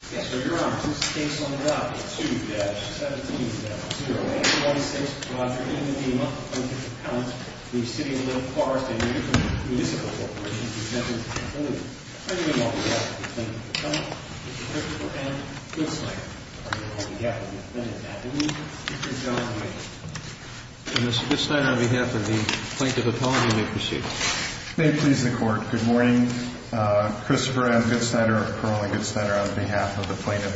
Mr. Goodsnyder, on behalf of the Plaintiff Apology Library, may it please the Court, good morning. Christopher M. Goodsnyder, Colonel Goodsnyder, on behalf of the Plaintiff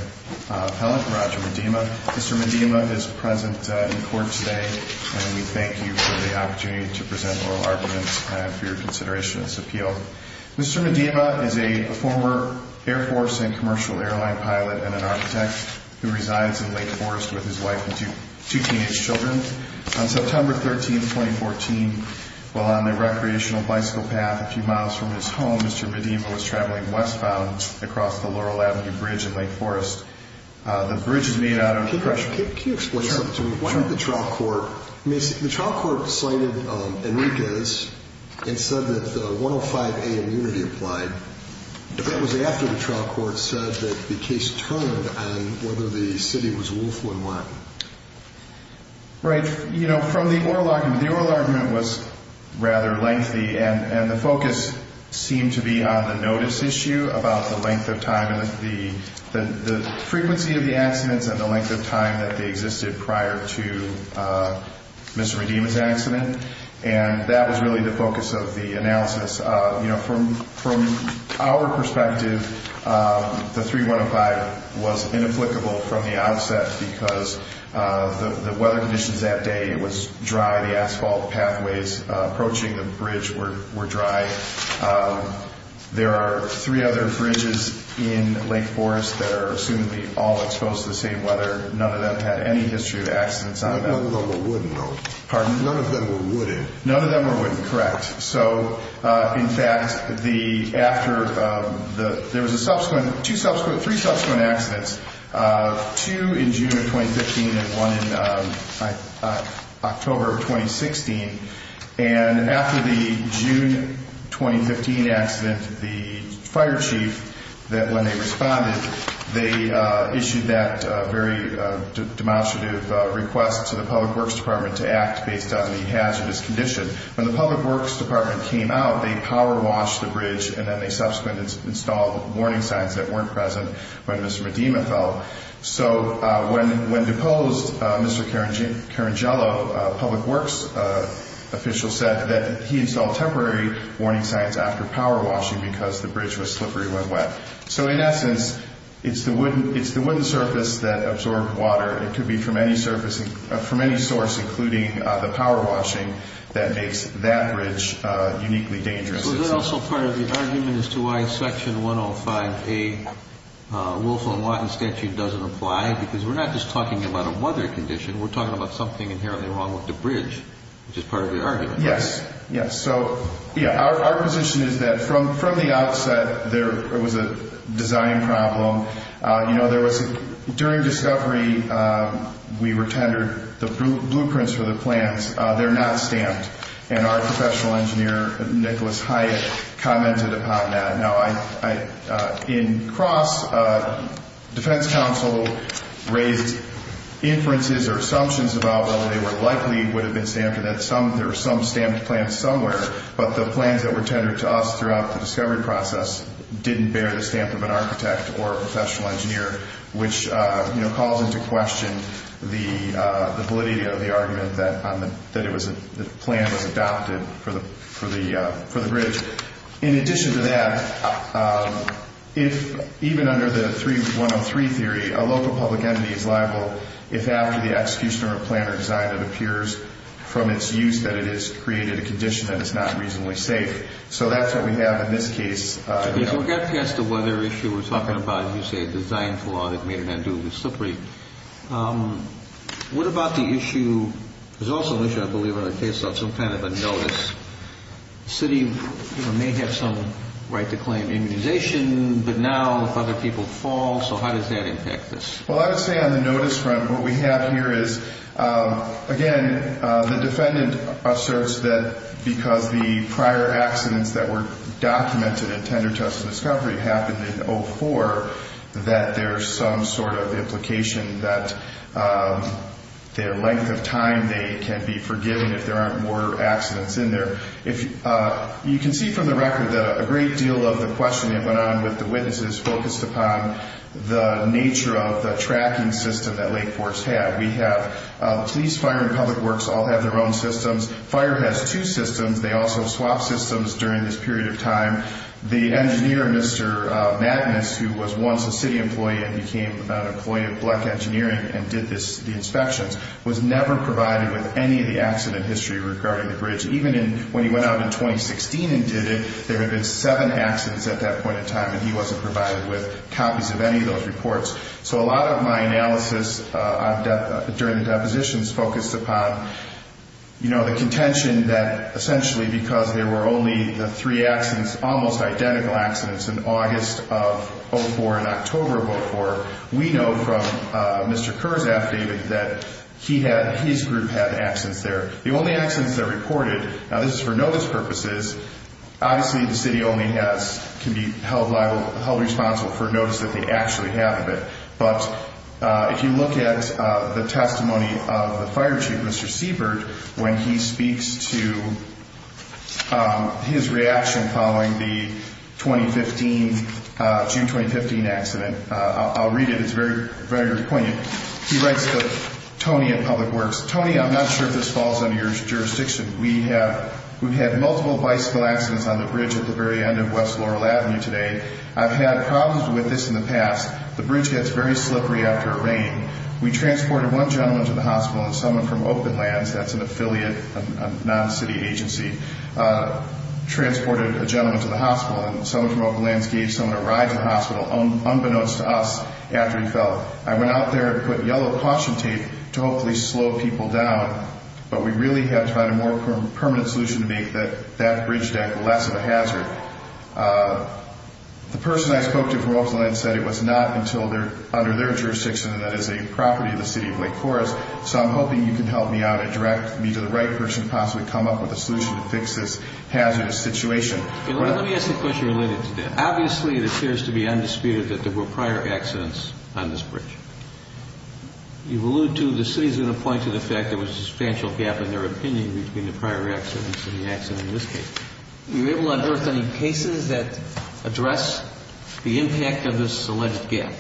Appellant, Roger Medema. Mr. Medema is present in court today, and we thank you for the opportunity to present oral arguments for your consideration of this appeal. Mr. Medema is a former Air Force and commercial airline pilot and an architect who resides in Lake Forest with his wife and two teenage children. On September 13, 2014, while on a recreational bicycle path a few miles from his home, Mr. Medema was traveling westbound across the Laurel Avenue Bridge in Lake Forest. The bridge is made out of... Mr. Medema is a former Air Force and commercial airline pilot and an architect who resides in Lake Forest with his wife and two teenage children. On September 13, 2014, while on a recreational bicycle path a few miles from his home, Mr. Medema was traveling westbound across the Laurel Avenue Bridge in Lake Forest. prior to Mr. Medema's accident, and that was really the focus of the analysis. You know, from our perspective, the 3105 was inapplicable from the outset because the weather conditions that day was dry. The asphalt pathways approaching the bridge were dry. There are three other bridges in Lake Forest that are assumed to be all exposed to the same weather. None of them had any history of accidents on them. None of them were wooden, though. Pardon? None of them were wooden. None of them were wooden, correct. So, in fact, after the... There was a subsequent... Two subsequent... Three subsequent accidents. Two in June of 2015 and one in October of 2016. And after the June 2015 accident, the fire chief, when they responded, they issued that very demonstrative request to the Public Works Department to act based on the hazardous condition. When the Public Works Department came out, they power washed the bridge, and then they subsequently installed warning signs that weren't present when Mr. Medema fell. So, when deposed, Mr. Carangelo, a Public Works official, said that he installed temporary warning signs after power washing because the bridge was slippery when wet. So, in essence, it's the wooden surface that absorbed water. It could be from any surface, from any source, including the power washing, that makes that bridge uniquely dangerous. So, is that also part of the argument as to why Section 105A, Wolf and Watten statute, doesn't apply? Because we're not just talking about a weather condition. We're talking about something inherently wrong with the bridge, which is part of the argument. Yes, yes. So, yeah, our position is that from the outset, there was a design problem. You know, there was, during discovery, we were tendered the blueprints for the plans. They're not stamped, and our professional engineer, Nicholas Hyatt, commented upon that. Now, in cross, Defense Council raised inferences or assumptions about whether they were likely, would have been stamped, or that there were some stamped plans somewhere. But the plans that were tendered to us throughout the discovery process didn't bear the stamp of an architect or a professional engineer, which, you know, calls into question the validity of the argument that the plan was adopted for the bridge. In addition to that, even under the 3103 theory, a local public entity is liable if after the execution of a plan or design, it appears from its use that it has created a condition that is not reasonably safe. So that's what we have in this case. If we get past the weather issue, we're talking about, as you say, the design flaw that made it undo the slip rate. What about the issue, there's also an issue, I believe, on the case of some kind of a notice. The city may have some right to claim immunization, but now if other people fall, so how does that impact this? Well, I would say on the notice front, what we have here is, again, the defendant asserts that because the prior accidents that were documented in tendered to us in discovery happened in 04, that there's some sort of implication that their length of time they can be forgiven if there aren't more accidents in there. You can see from the record that a great deal of the questioning that went on with the witnesses focused upon the nature of the tracking system that Lake Forks had. We have police, fire, and public works all have their own systems. Fire has two systems. They also swap systems during this period of time. The engineer, Mr. Magnus, who was once a city employee and became an employee at Bleck Engineering and did the inspections, was never provided with any of the accident history regarding the bridge. Even when he went out in 2016 and did it, there had been seven accidents at that point in time, and he wasn't provided with copies of any of those reports. So a lot of my analysis during the depositions focused upon the contention that, essentially, because there were only the three accidents, almost identical accidents in August of 04 and October of 04, we know from Mr. Kerr's affidavit that his group had accidents there. The only accidents that are reported, now this is for notice purposes, obviously the city only can be held responsible for a notice that they actually have it. But if you look at the testimony of the fire chief, Mr. Siebert, when he speaks to his reaction following the 2015, June 2015 accident, I'll read it. It's very, very poignant. He writes to Tony at Public Works, Tony, I'm not sure if this falls under your jurisdiction. We have had multiple bicycle accidents on the bridge at the very end of West Laurel Avenue today. I've had problems with this in the past. The bridge gets very slippery after a rain. We transported one gentleman to the hospital and someone from Open Lands, that's an affiliate, a non-city agency, transported a gentleman to the hospital. And someone from Open Lands gave someone a ride to the hospital, unbeknownst to us, after he fell. I went out there and put yellow caution tape to hopefully slow people down. But we really have to find a more permanent solution to make that bridge deck less of a hazard. The person I spoke to from Open Lands said it was not under their jurisdiction and that it is a property of the City of Lake Forest. So I'm hoping you can help me out and direct me to the right person to possibly come up with a solution to fix this hazardous situation. Let me ask a question related to that. Obviously, it appears to be undisputed that there were prior accidents on this bridge. You've alluded to the city is going to point to the fact there was a substantial gap in their opinion between the prior accidents and the accident in this case. Were you able to unearth any cases that address the impact of this alleged gap?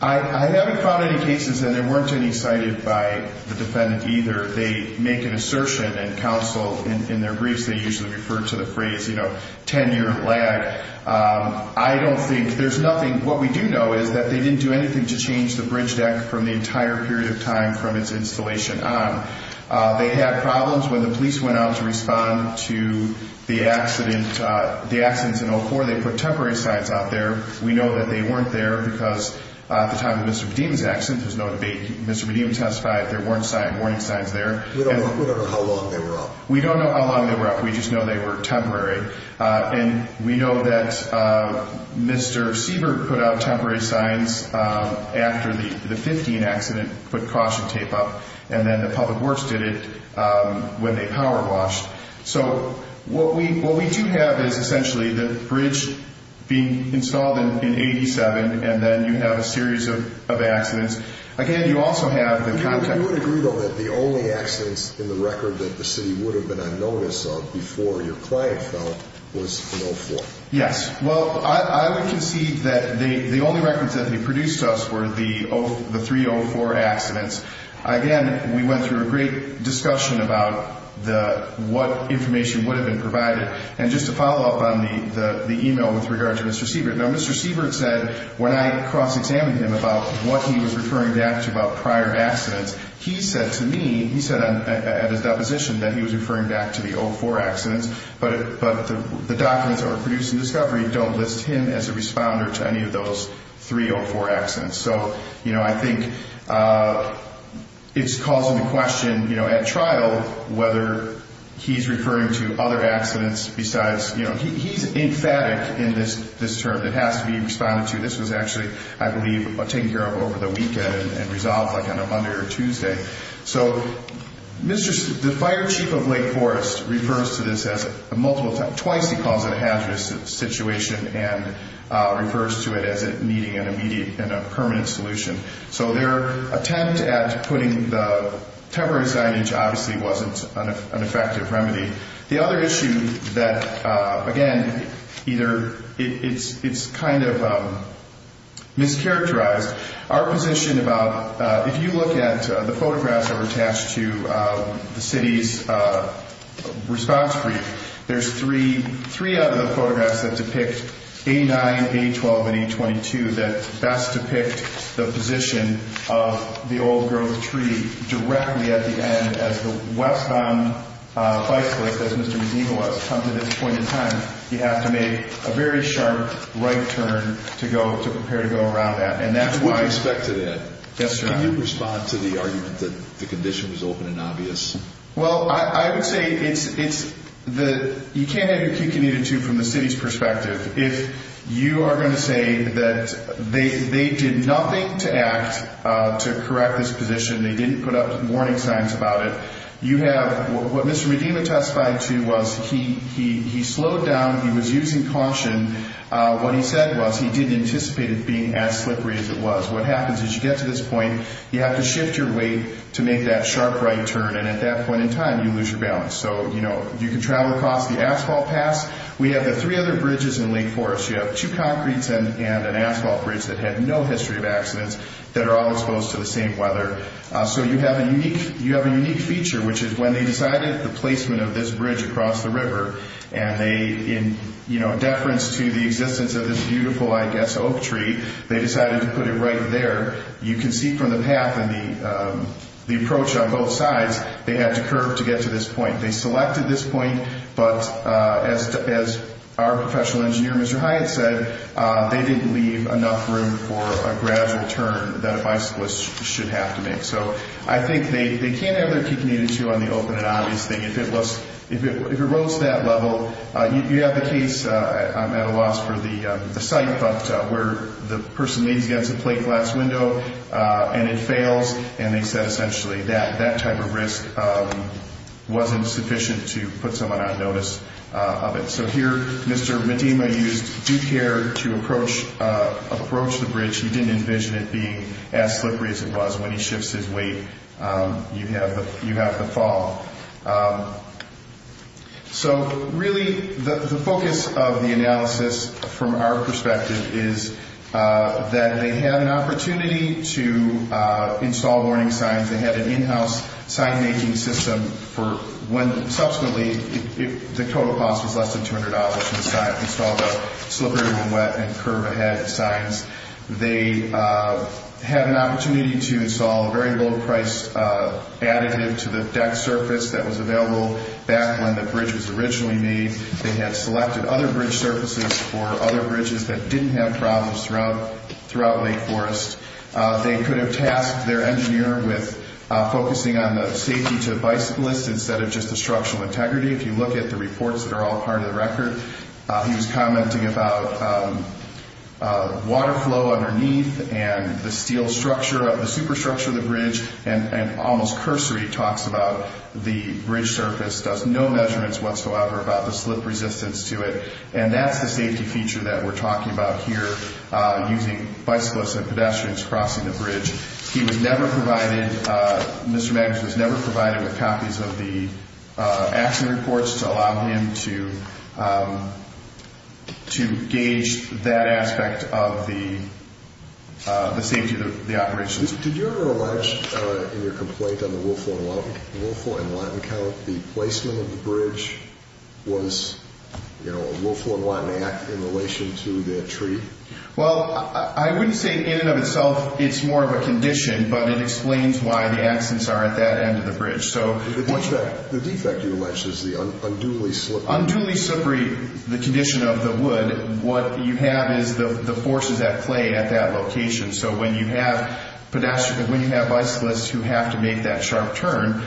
I haven't found any cases, and they weren't any cited by the defendant either. They make an assertion and counsel in their briefs. They usually refer to the phrase, you know, tenure, lag. I don't think there's nothing. What we do know is that they didn't do anything to change the bridge deck from the entire period of time from its installation on. They had problems when the police went out to respond to the accident. The accidents in 04, they put temporary signs out there. We know that they weren't there because at the time of Mr. Vadim's accident, there's no debate. Mr. Vadim testified there weren't warning signs there. We don't know how long they were up. We don't know how long they were up. We just know they were temporary. And we know that Mr. Siebert put out temporary signs after the 15 accident, put caution tape up, and then the public works did it when they power washed. So what we do have is essentially the bridge being installed in 87, and then you have a series of accidents. Again, you also have the contact. You would agree, though, that the only accidents in the record that the city would have been on notice of before your client fell was in 04? Yes. Well, I would concede that the only records that they produced to us were the 304 accidents. Again, we went through a great discussion about what information would have been provided. And just to follow up on the email with regard to Mr. Siebert, now Mr. Siebert said when I cross-examined him about what he was referring back to about prior accidents, he said to me, he said at his deposition that he was referring back to the 04 accidents, but the documents that were produced in discovery don't list him as a responder to any of those 304 accidents. So, you know, I think it's causing the question, you know, at trial whether he's referring to other accidents besides, you know, he's emphatic in this term that has to be responded to. This was actually, I believe, taken care of over the weekend and resolved like on a Monday or Tuesday. So the fire chief of Lake Forest refers to this as a multiple, twice he calls it a hazardous situation and refers to it as needing an immediate and a permanent solution. So their attempt at putting the temporary signage obviously wasn't an effective remedy. The other issue that, again, either it's kind of mischaracterized. Our position about if you look at the photographs that were attached to the city's response brief, there's three of the photographs that depict A9, A12, and A22 that best depict the position of the old growth tree directly at the end. As the westbound bicyclist, as Mr. Medina was, come to this point in time, you have to make a very sharp right turn to go to prepare to go around that. And that's why. With respect to that. Yes, sir. Well, I would say it's the, you can't have your key committed to from the city's perspective. If you are going to say that they did nothing to act to correct this position, they didn't put up warning signs about it. You have what Mr. Medina testified to was he slowed down, he was using caution. What he said was he didn't anticipate it being as slippery as it was. What happens is you get to this point, you have to shift your weight to make that sharp right turn. And at that point in time, you lose your balance. So, you know, you can travel across the asphalt pass. We have the three other bridges in Lake Forest. You have two concretes and an asphalt bridge that had no history of accidents that are all exposed to the same weather. So you have a unique feature, which is when they decided the placement of this bridge across the river, and they, in deference to the existence of this beautiful, I guess, oak tree, they decided to put it right there. You can see from the path and the approach on both sides, they had to curve to get to this point. They selected this point, but as our professional engineer, Mr. Hyatt, said, they didn't leave enough room for a gradual turn that a bicyclist should have to make. So I think they can have their key committed to on the open and obvious thing. If it rose to that level, you have the case, I'm at a loss for the site, but where the person leans against a plate glass window and it fails, and they said essentially that type of risk wasn't sufficient to put someone on notice of it. So here, Mr. Medina used due care to approach the bridge. He didn't envision it being as slippery as it was. When he shifts his weight, you have the fall. So really, the focus of the analysis, from our perspective, is that they had an opportunity to install warning signs. They had an in-house sign-making system. Subsequently, the total cost was less than $200 to install the slippery, wet, and curve-ahead signs. They had an opportunity to install a very low-price additive to the deck surface that was available back when the bridge was originally made. They had selected other bridge surfaces for other bridges that didn't have problems throughout Lake Forest. They could have tasked their engineer with focusing on the safety to the bicyclists instead of just the structural integrity. If you look at the reports that are all part of the record, he was commenting about water flow underneath and the steel structure, the superstructure of the bridge, and almost cursory talks about the bridge surface does no measurements whatsoever about the slip resistance to it. And that's the safety feature that we're talking about here, using bicyclists and pedestrians crossing the bridge. He was never provided, Mr. Magnus was never provided with copies of the action reports to allow him to gauge that aspect of the safety of the operation. Did you ever allege in your complaint on the Wolfhorn Latin Count the placement of the bridge was a Wolfhorn Latin act in relation to their tree? Well, I wouldn't say in and of itself it's more of a condition, but it explains why the accents are at that end of the bridge. The defect you allege is the unduly slippery. Unduly slippery, the condition of the wood, what you have is the forces at play at that location. So when you have bicyclists who have to make that sharp turn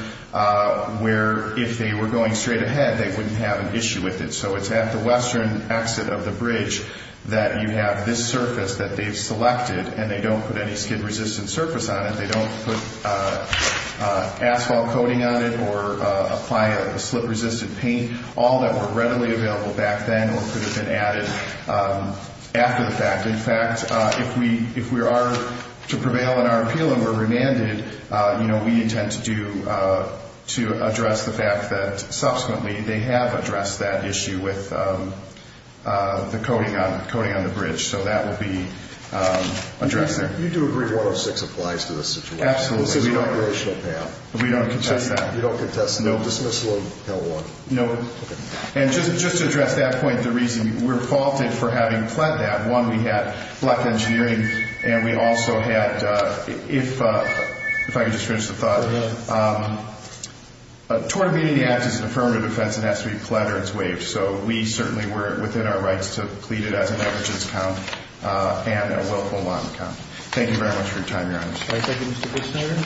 where if they were going straight ahead they wouldn't have an issue with it. So it's at the western exit of the bridge that you have this surface that they've selected and they don't put any skin-resistant surface on it. They don't put asphalt coating on it or apply a slip-resistant paint, all that were readily available back then or could have been added after the fact. In fact, if we are to prevail in our appeal and we're remanded, we intend to address the fact that subsequently they have addressed that issue with the coating on the bridge, so that will be addressed there. You do agree that 106 applies to this situation? Absolutely. It's an operational path. We don't contest that? We don't contest that. Nope. Dismissal of L1. Nope. And just to address that point, the reason we're faulted for having pled that, one, we had black engineering and we also had, if I could just finish the thought. Go ahead. A tort immediately acts as an affirmative offense and has to be pled or it's waived. So we certainly were within our rights to plead it as an evidence count and a willful lotton count. Thank you very much for your time, Your Honor. Thank you, Mr. Fitzschneider.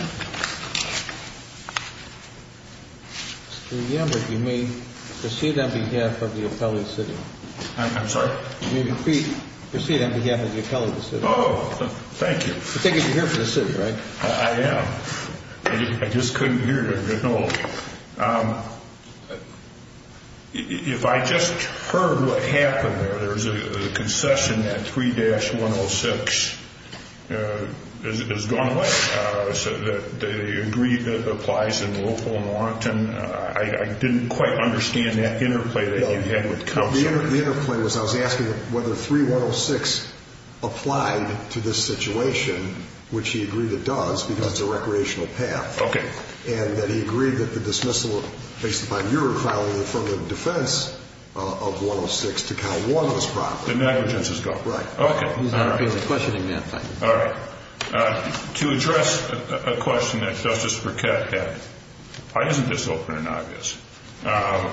Mr. Yambert, you may proceed on behalf of the appellee sitting. I'm sorry? You may proceed on behalf of the appellee sitting. Oh, thank you. I take it you're here for the sitting, right? I am. I just couldn't hear you. If I just heard what happened there, there's a concession that 3-106 has gone away. They agreed that it applies in willful and wanton. I didn't quite understand that interplay that you had with counsel. The interplay was I was asking whether 3-106 applied to this situation, which he agreed it does because it's a recreational path. Okay. And that he agreed that the dismissal, based upon your trial, from the defense of 106 to Cal-1 was proper. The negligence has gone. Right. Okay. All right. All right. To address a question that Justice Burkett had, why isn't this open and obvious? I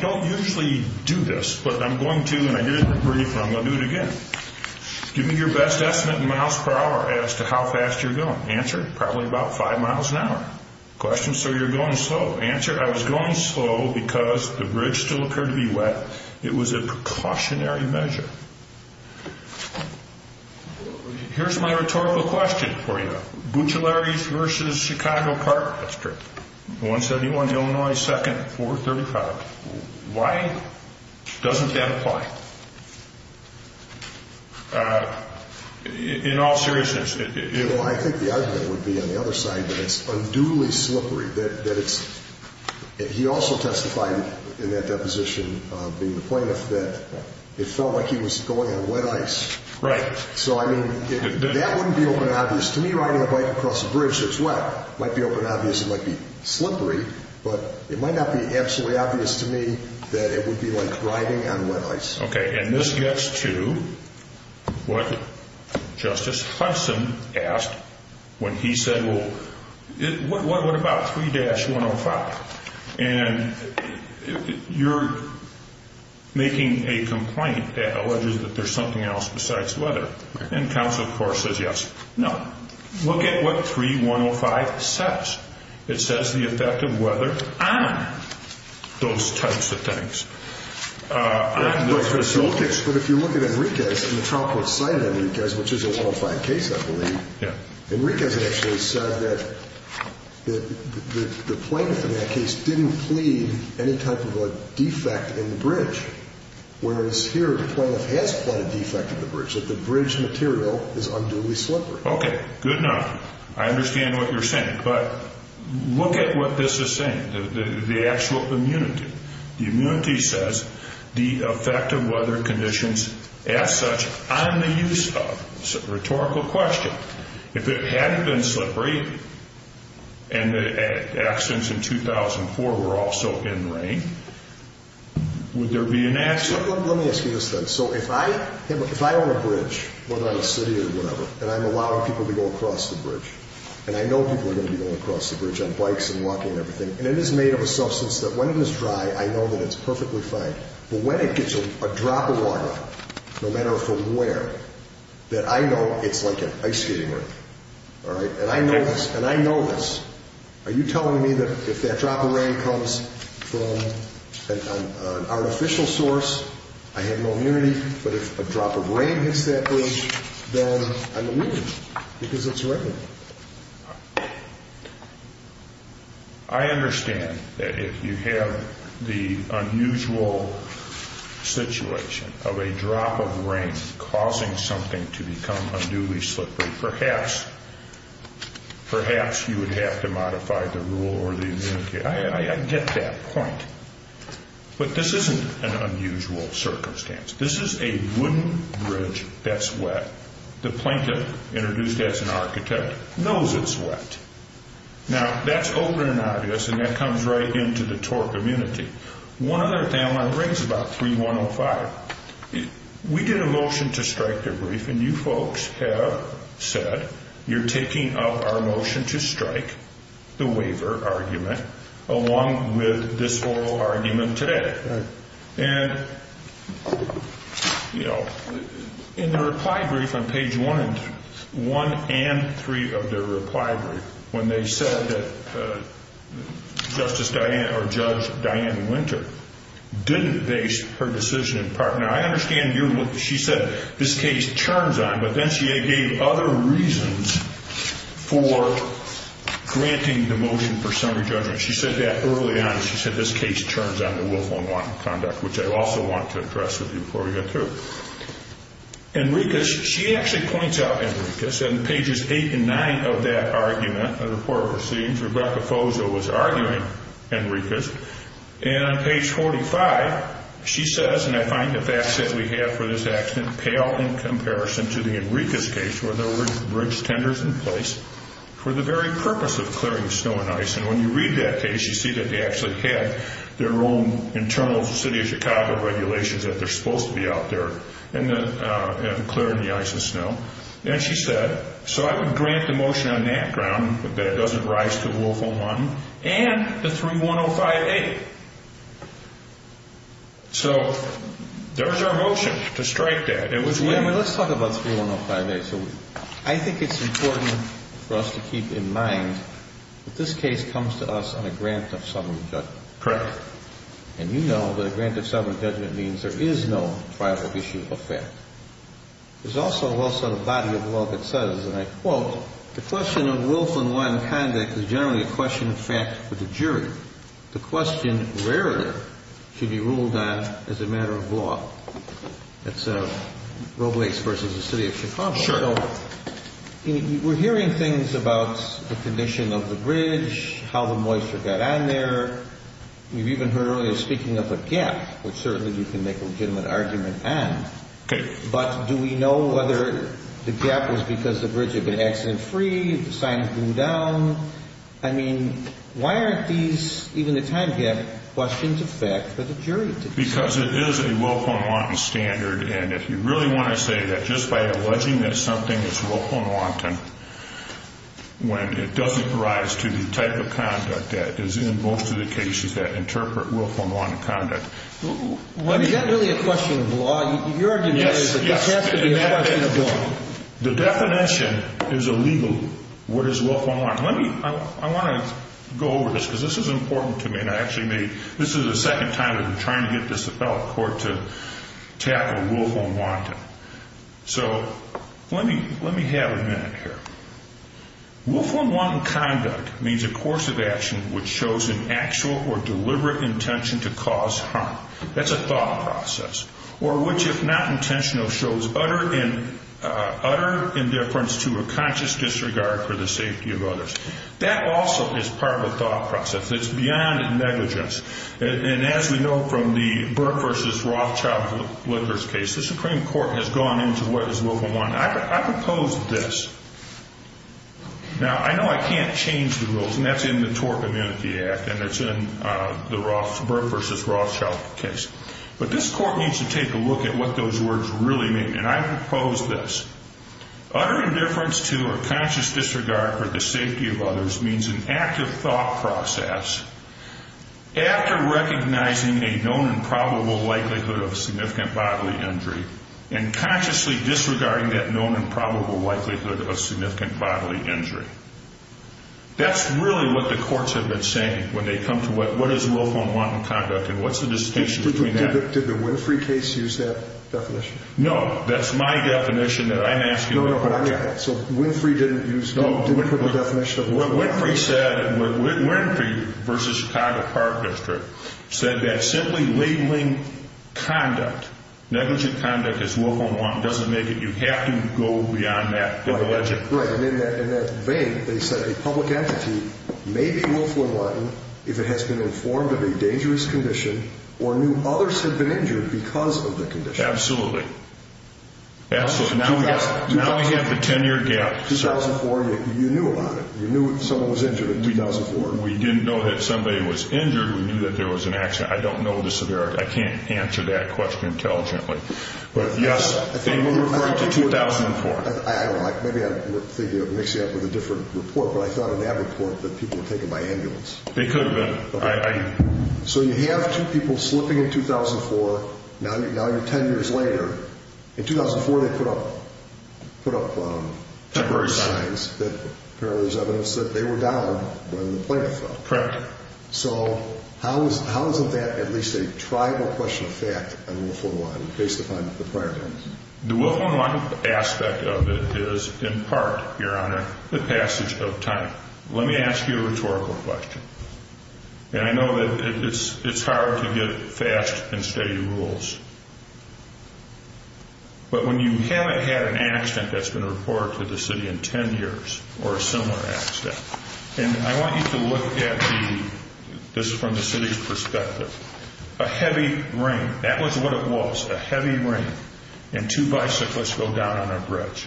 don't usually do this, but I'm going to, and I didn't agree, but I'm going to do it again. Give me your best estimate in miles per hour as to how fast you're going. Answer? Probably about five miles an hour. Question? Sir, you're going slow. Answer? I was going slow because the bridge still occurred to be wet. It was a precautionary measure. Here's my rhetorical question for you. Buccellaris v. Chicago Park District, 171 Illinois 2nd, 435. Why doesn't that apply? In all seriousness. Well, I think the argument would be on the other side that it's unduly slippery, that it's – he also testified in that deposition, being the plaintiff, that it felt like he was going on wet ice. Right. So, I mean, that wouldn't be open and obvious. To me, riding a bike across a bridge that's wet might be open and obvious. It might be slippery, but it might not be absolutely obvious to me that it would be like riding on wet ice. Okay. And this gets to what Justice Hudson asked when he said, well, what about 3-105? And you're making a complaint that alleges that there's something else besides weather. And counsel, of course, says yes. No. Look at what 3-105 says. It says the effect of weather on those types of things. But if you look at Enriquez and the trial court cited Enriquez, which is a 105 case, I believe, Enriquez actually said that the plaintiff in that case didn't plead any type of a defect in the bridge, whereas here the plaintiff has pled a defect in the bridge, that the bridge material is unduly slippery. Okay. Good enough. I understand what you're saying. But look at what this is saying, the actual immunity. The immunity says the effect of weather conditions as such on the use of. It's a rhetorical question. If it hadn't been slippery and the accidents in 2004 were also in rain, would there be an accident? Let me ask you this then. So if I own a bridge, whether I'm a city or whatever, and I'm allowing people to go across the bridge, and I know people are going to be going across the bridge on bikes and walking and everything, and it is made of a substance that when it is dry, I know that it's perfectly fine. But when it gets a drop of water, no matter from where, that I know it's like an ice skater. All right? And I know this. And I know this. Are you telling me that if that drop of rain comes from an artificial source, I have no immunity, but if a drop of rain hits that bridge, then I'm immune because it's rain. I understand that if you have the unusual situation of a drop of rain causing something to become unduly slippery, perhaps you would have to modify the rule or the immunity. I get that point. But this isn't an unusual circumstance. This is a wooden bridge that's wet. The plaintiff, introduced as an architect, knows it's wet. Now, that's open and obvious, and that comes right into the torque immunity. One other thing I want to bring is about 3105. We did a motion to strike the brief, and you folks have said you're taking up our motion to strike the waiver argument along with this oral argument today. And, you know, in the reply brief on page one and three of the reply brief, when they said that Justice Dianne or Judge Dianne Winter didn't base her decision in part. Now, I understand she said this case turns on, but then she gave other reasons for granting the motion for summary judgment. She said that early on. She said this case turns on to willful and wanton conduct, which I also want to address with you before we get through. Enriquez, she actually points out Enriquez. In pages eight and nine of that argument, a report receives, Rebecca Fozo was arguing Enriquez. And on page 45, she says, and I find the facts that we have for this accident pale in comparison to the Enriquez case where there were bridge tenders in place for the very purpose of clearing snow and ice. And when you read that case, you see that they actually had their own internal City of Chicago regulations that they're supposed to be out there and clearing the ice and snow. And she said, so I would grant the motion on that ground that it doesn't rise to willful and wanton and the 3105A. So there's our motion to strike that. Let's talk about 3105A. So I think it's important for us to keep in mind that this case comes to us on a grant of summary judgment. Correct. And you know that a grant of summary judgment means there is no trial or issue of fact. There's also the body of law that says, and I quote, the question of willful and wanton conduct is generally a question of fact for the jury. The question rarely should be ruled on as a matter of law. That's Roe Blakes versus the City of Chicago. Sure. So we're hearing things about the condition of the bridge, how the moisture got on there. You've even heard earlier speaking of a gap, which certainly you can make a legitimate argument on. Okay. But do we know whether the gap was because the bridge had been accident-free, the signs blew down? I mean, why aren't these, even the time gap, questions of fact for the jury to decide? Because it is a willful and wanton standard, and if you really want to say that just by alleging that something is willful and wanton, when it doesn't rise to the type of conduct that is in most of the cases that interpret willful and wanton conduct. Is that really a question of law? Your argument is that this has to be a question of law. The definition is illegal, what is willful and wanton. Let me, I want to go over this because this is important to me, and I actually made, this is the second time that I'm trying to get this appellate court to tackle willful and wanton. So let me have a minute here. Willful and wanton conduct means a course of action which shows an actual or deliberate intention to cause harm. That's a thought process. Or which, if not intentional, shows utter indifference to a conscious disregard for the safety of others. That also is part of a thought process. It's beyond negligence. And as we know from the Burke v. Rothschild litigants case, the Supreme Court has gone into what is willful and wanton. I propose this. Now, I know I can't change the rules, and that's in the Tort Amnesty Act, and it's in the Burke v. Rothschild case. But this court needs to take a look at what those words really mean, and I propose this. Utter indifference to or conscious disregard for the safety of others means an active thought process. After recognizing a known and probable likelihood of a significant bodily injury and consciously disregarding that known and probable likelihood of a significant bodily injury, that's really what the courts have been saying when they come to what is willful and wanton conduct and what's the distinction between that. Did the Winfrey case use that definition? No. That's my definition that I'm asking about. No, no, but I got it. What Winfrey said, Winfrey v. Chicago Park District, said that simply labeling conduct, negligent conduct as willful and wanton, doesn't make it. You have to go beyond that to allege it. Right, and in that vein, they said a public entity may be willful and wanton if it has been informed of a dangerous condition or knew others had been injured because of the condition. Absolutely, absolutely. Now we have the 10-year gap. 2004, you knew about it. You knew someone was injured in 2004. We didn't know that somebody was injured. We knew that there was an accident. I don't know the severity. I can't answer that question intelligently. But, yes, I think we're referring to 2004. I don't know. Maybe I'm thinking of mixing it up with a different report, but I thought in that report that people were taken by ambulance. They could have been. So you have two people slipping in 2004. Now you're 10 years later. In 2004, they put up temporary signs that apparently there's evidence that they were down when the plane fell. Correct. So how is that at least a tribal question of fact on willful and wanton based upon the prior evidence? The willful and wanton aspect of it is, in part, Your Honor, the passage of time. Let me ask you a rhetorical question. And I know that it's hard to get fast and steady rules. But when you haven't had an accident that's been reported to the city in 10 years or a similar accident, and I want you to look at this from the city's perspective. A heavy rain, that was what it was, a heavy rain, and two bicyclists go down on a bridge.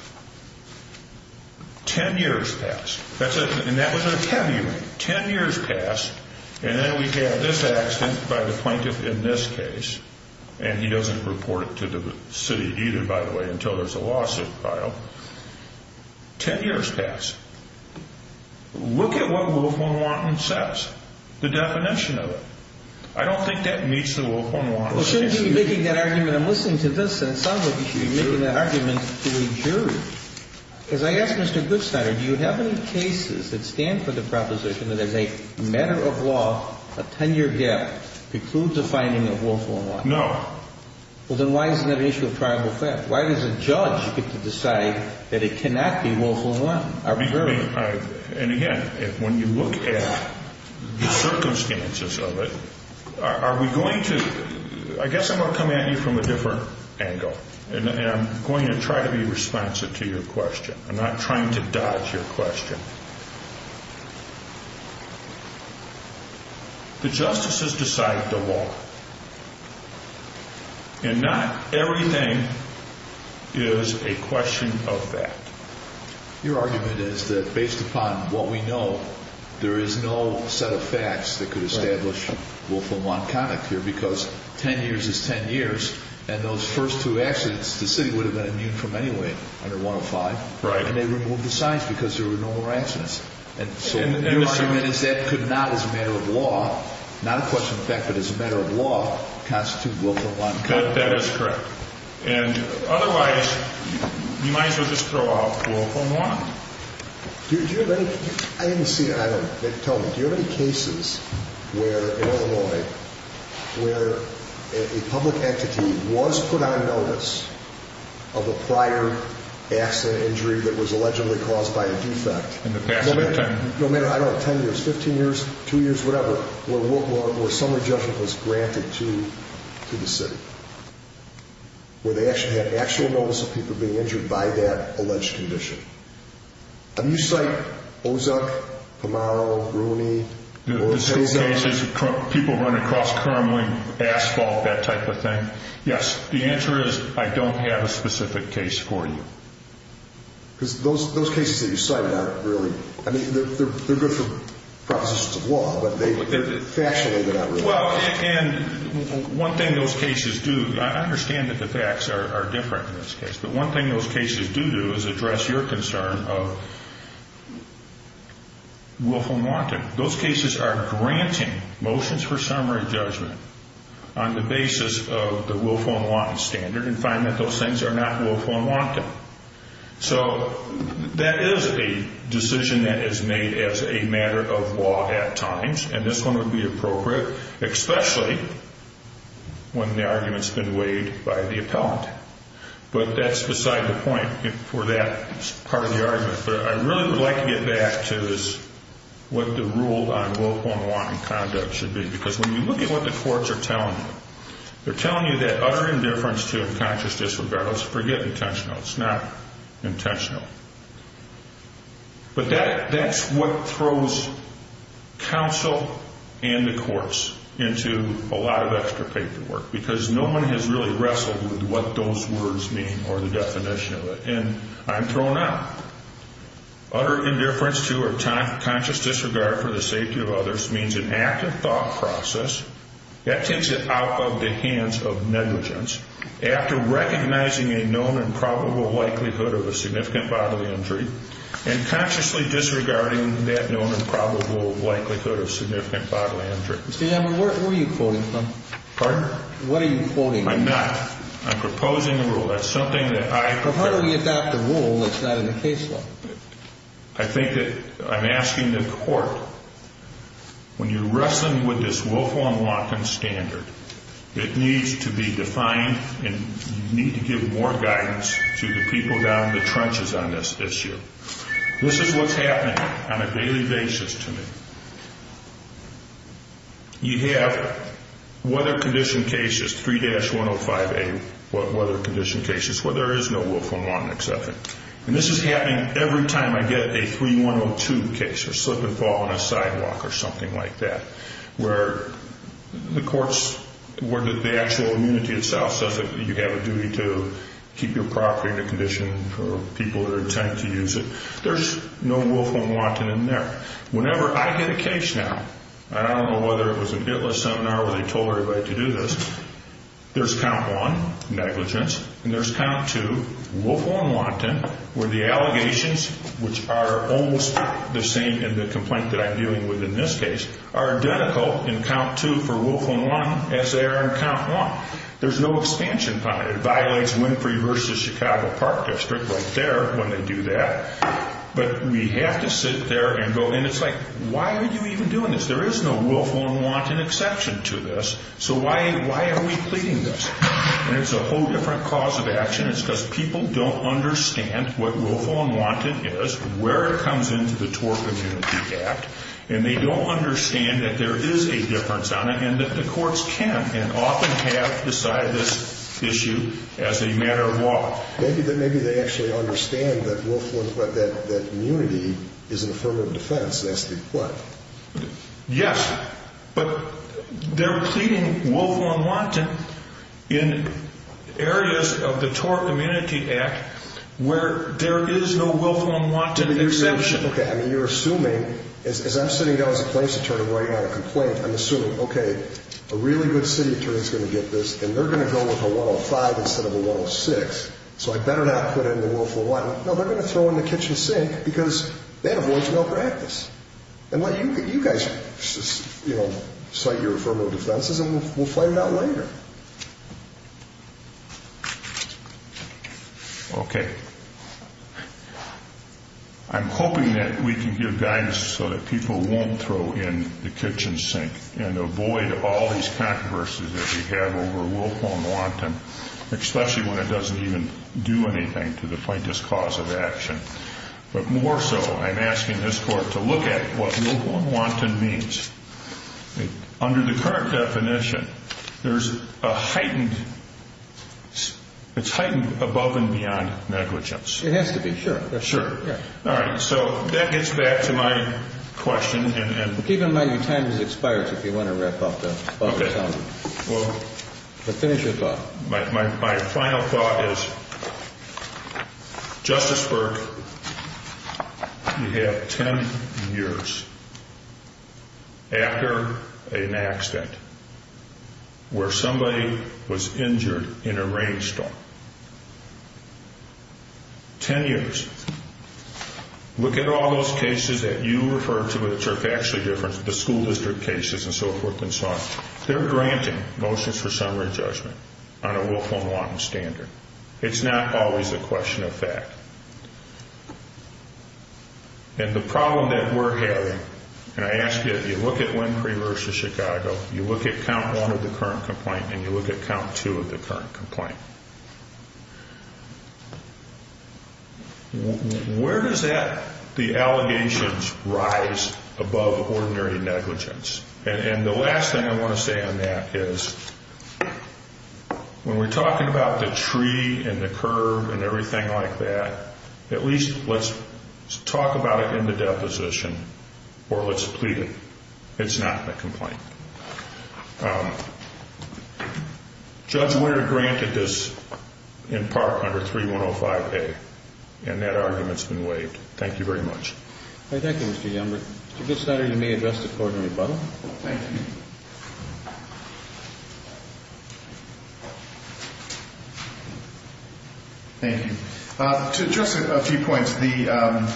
Ten years passed, and that was a heavy rain. Ten years passed, and then we have this accident by the plaintiff in this case, and he doesn't report it to the city either, by the way, until there's a lawsuit filed. Ten years passed. Look at what willful and wanton says, the definition of it. I don't think that meets the willful and wanton. Well, shouldn't you be making that argument? I'm listening to this, and it sounds like you should be making that argument to a jury. As I ask Mr. Goodstein, do you have any cases that stand for the proposition that as a matter of law, a 10-year gap precludes a finding of willful and wanton? No. Well, then why isn't that an issue of tribal fact? Why does a judge get to decide that it cannot be willful and wanton? I mean, and again, when you look at the circumstances of it, are we going to – I guess I'm going to come at you from a different angle, and I'm going to try to be responsive to your question. I'm not trying to dodge your question. The justices decide the law, and not everything is a question of fact. Your argument is that based upon what we know, there is no set of facts that could establish willful and wanton here because 10 years is 10 years, and those first two accidents, the city would have been immune from anyway under 105, and they removed the signs because there were no more accidents. So your argument is that could not, as a matter of law, not a question of fact, but as a matter of law, constitute willful and wanton. That is correct. And otherwise, you might as well just throw out willful and wanton. I didn't see it. Tell me, do you have any cases where, in Illinois, where a public entity was put on notice of a prior accident, injury that was allegedly caused by a defect, no matter, I don't know, 10 years, 15 years, two years, whatever, where some adjustment was granted to the city, where they actually had actual notice of people being injured by that alleged condition? Do you cite Ozuck, Pamaro, Rooney? The cases of people running across crumbling asphalt, that type of thing? Yes. The answer is I don't have a specific case for you. Because those cases that you cited aren't really, I mean, they're good for propositions of law, but factually they're not really. Well, and one thing those cases do, I understand that the facts are different in this case, but one thing those cases do do is address your concern of willful and wanton. Those cases are granting motions for summary judgment on the basis of the willful and wanton standard and find that those things are not willful and wanton. So that is a decision that is made as a matter of law at times, and this one would be appropriate, especially when the argument's been weighed by the appellant. But that's beside the point for that part of the argument. But I really would like to get back to this, what the rule on willful and wanton conduct should be. Because when you look at what the courts are telling you, they're telling you that utter indifference to unconscious disregard, let's forget intentional, it's not intentional. But that's what throws counsel and the courts into a lot of extra paperwork, because no one has really wrestled with what those words mean or the definition of it. And I'm thrown out. Utter indifference to or conscious disregard for the safety of others means an active thought process that takes it out of the hands of negligence after recognizing a known and probable likelihood of a significant bodily injury and consciously disregarding that known and probable likelihood of significant bodily injury. Mr. Yammer, where are you quoting from? Pardon? What are you quoting? I'm not. I'm proposing a rule. That's something that I propose. Well, how do we adopt a rule that's not in the case law? I think that I'm asking the court, when you're wrestling with this willful and wanton standard, it needs to be defined and you need to give more guidance to the people down the trenches on this issue. This is what's happening on a daily basis to me. You have weather-conditioned cases, 3-105A weather-conditioned cases, where there is no willful and wanton exception. And this is happening every time I get a 3-102 case or slip and fall on a sidewalk or something like that, where the courts, where the actual immunity itself says that you have a duty to keep your property in a condition for people that are intent to use it, there's no willful and wanton in there. Whenever I get a case now, and I don't know whether it was a bit-less seminar where they told everybody to do this, there's count one, negligence, and there's count two, willful and wanton, where the allegations, which are almost the same in the complaint that I'm dealing with in this case, are identical in count two for willful and wanton as they are in count one. There's no expansion on it. It violates Winfrey v. Chicago Park District right there when they do that. But we have to sit there and go, and it's like, why are you even doing this? There is no willful and wanton exception to this, so why are we pleading this? And it's a whole different cause of action. It's because people don't understand what willful and wanton is, where it comes into the TOR Community Act, and they don't understand that there is a difference on it, and that the courts can and often have decided this issue as a matter of law. Maybe they actually understand that willful and wanton, that immunity is an affirmative defense, and that's the what? Yes, but they're pleading willful and wanton in areas of the TOR Community Act where there is no willful and wanton exception. Okay, I mean, you're assuming, as I'm sitting down as a place attorney and I'm writing out a complaint, I'm assuming, okay, a really good city attorney is going to get this, and they're going to go with a 105 instead of a 106, so I better not put in the willful and wanton. No, they're going to throw in the kitchen sink because that avoids malpractice. And you guys cite your affirmative defenses, and we'll find out later. Okay. I'm hoping that we can give guidance so that people won't throw in the kitchen sink and avoid all these controversies that we have over willful and wanton, especially when it doesn't even do anything to the plaintiff's cause of action. But more so, I'm asking this court to look at what willful and wanton means. Under the current definition, it's heightened above and beyond negligence. It has to be, sure. Sure. All right, so that gets back to my question. Keep in mind your time has expired, so if you want to wrap up, finish your thought. My final thought is, Justice Burke, you have ten years after an accident where somebody was injured in a rainstorm. Ten years. Look at all those cases that you refer to, which are factually different, the school district cases and so forth and so on. They're granting motions for summary judgment on a willful and wanton standard. It's not always a question of fact. And the problem that we're having, and I ask you, if you look at Winfrey v. Chicago, you look at count one of the current complaint and you look at count two of the current complaint. Where does that, the allegations, rise above ordinary negligence? And the last thing I want to say on that is, when we're talking about the tree and the curve and everything like that, at least let's talk about it in the deposition or let's plead it. It's not in the complaint. Judge Wehr granted this in part under 3105A, and that argument's been waived. Thank you very much. Thank you, Mr. Youngberg. Chief Judge Snyder, you may address the court in rebuttal. Thank you. Thank you. To address a few points, the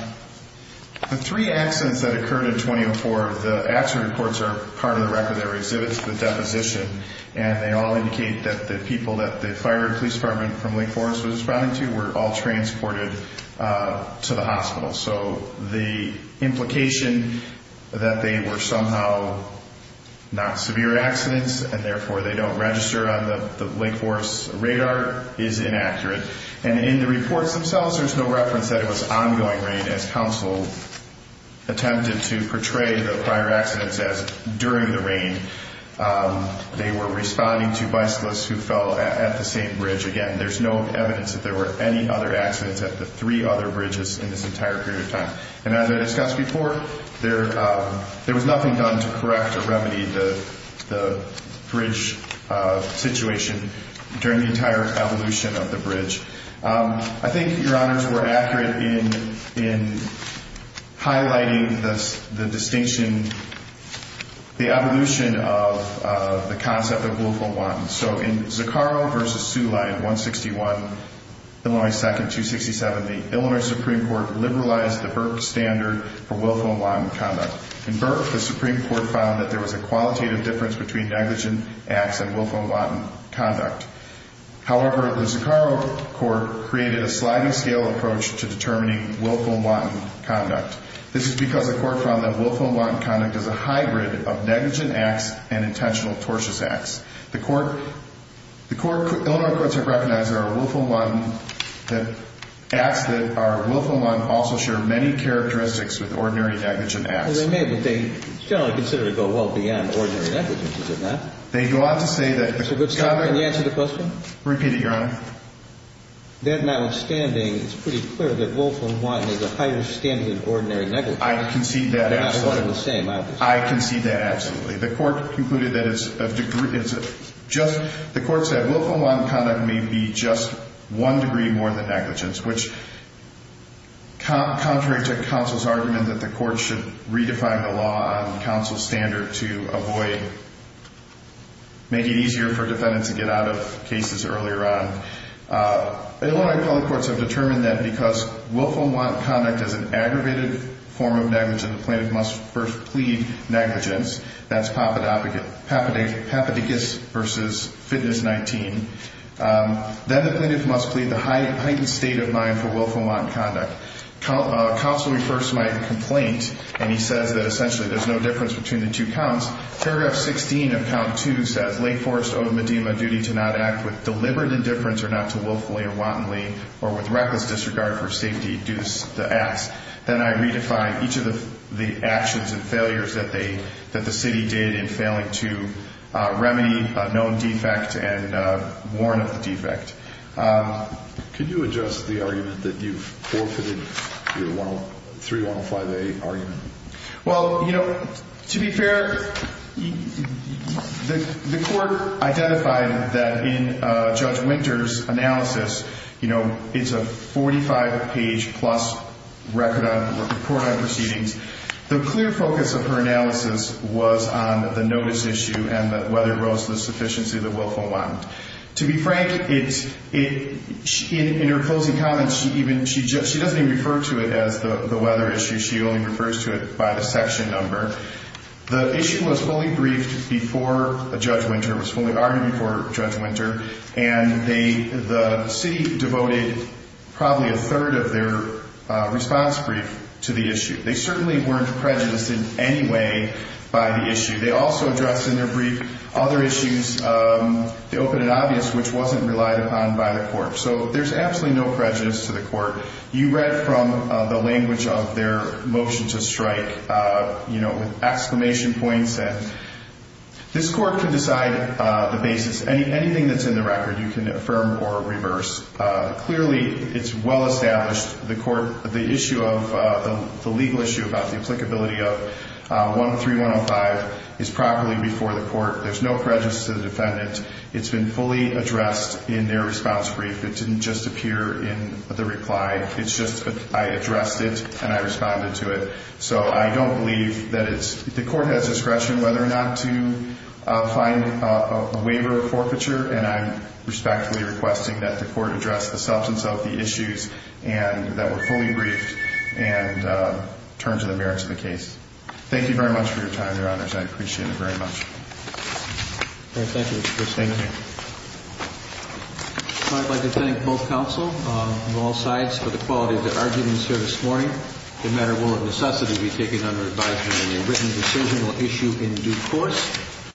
three accidents that occurred in 2004, the accident reports are part of the record that were exhibited to the deposition, and they all indicate that the people that the fire and police department from Link Forest was responding to were all transported to the hospital. So the implication that they were somehow not severe accidents and therefore they don't register on the Link Forest radar is inaccurate. And in the reports themselves, there's no reference that it was ongoing rain as counsel attempted to portray the prior accidents as during the rain. They were responding to bicyclists who fell at the same bridge. Again, there's no evidence that there were any other accidents at the three other bridges in this entire period of time. And as I discussed before, there was nothing done to correct or remedy the bridge situation during the entire evolution of the bridge. I think Your Honors were accurate in highlighting the distinction, the evolution of the concept of local ones. So in Zaccaro v. Suli in 161, Illinois 2nd, 267, the Illinois Supreme Court liberalized the Burke standard for willful and wanton conduct. In Burke, the Supreme Court found that there was a qualitative difference between negligent acts and willful and wanton conduct. However, the Zaccaro court created a sliding scale approach to determining willful and wanton conduct. This is because the court found that willful and wanton conduct is a hybrid of negligent acts and intentional tortious acts. The Illinois courts have recognized that acts that are willful and wanton also share many characteristics with ordinary negligent acts. Well, they may, but they generally consider it to go well beyond ordinary negligence, is it not? They go on to say that the conduct... Can you answer the question? Repeat it, Your Honor. That notwithstanding, it's pretty clear that willful and wanton is a higher standard than ordinary negligence. I concede that absolutely. They're not one and the same, obviously. I concede that absolutely. The court concluded that it's just... The court said willful and wanton conduct may be just one degree more than negligence, which, contrary to counsel's argument that the court should redefine the law on counsel's standard to avoid... make it easier for defendants to get out of cases earlier on, Illinois public courts have determined that because willful and wanton conduct is an aggravated form of negligence, the plaintiff must first plead negligence. That's Papadopoulos v. Fitness 19. Then the plaintiff must plead the heightened state of mind for willful and wanton conduct. Counsel refers to my complaint, and he says that essentially there's no difference between the two counts. Paragraph 16 of Count 2 says, Lake Forest owed Medina a duty to not act with deliberate indifference or not to willfully or wantonly or with reckless disregard for safety due to the acts. Then I redefined each of the actions and failures that the city did in failing to remedy a known defect and warn of the defect. Can you address the argument that you've forfeited your 3105A argument? Well, you know, to be fair, the court identified that in Judge Winter's analysis, you know, it's a 45-page-plus record on court proceedings. The clear focus of her analysis was on the notice issue and whether it rose to the sufficiency of the willful and wanton. To be frank, in her closing comments, she doesn't even refer to it as the weather issue. She only refers to it by the section number. The issue was fully briefed before Judge Winter, was fully argued before Judge Winter, and the city devoted probably a third of their response brief to the issue. They certainly weren't prejudiced in any way by the issue. They also addressed in their brief other issues, the open and obvious, which wasn't relied upon by the court. So there's absolutely no prejudice to the court. You read from the language of their motion to strike, you know, with exclamation points This court can decide the basis. Anything that's in the record, you can affirm or reverse. Clearly, it's well-established. The legal issue about the applicability of 13105 is properly before the court. There's no prejudice to the defendant. It's been fully addressed in their response brief. It didn't just appear in the reply. It's just I addressed it and I responded to it. So I don't believe that the court has discretion whether or not to find a waiver of forfeiture, and I'm respectfully requesting that the court address the substance of the issues and that we're fully briefed and turn to the merits of the case. Thank you very much for your time, Your Honors. I appreciate it very much. Thank you, Mr. Kristine. Thank you. I'd like to thank both counsel on all sides for the quality of their arguments here this morning. The matter will, if necessary, be taken under advisement in a written decision or issue in due course.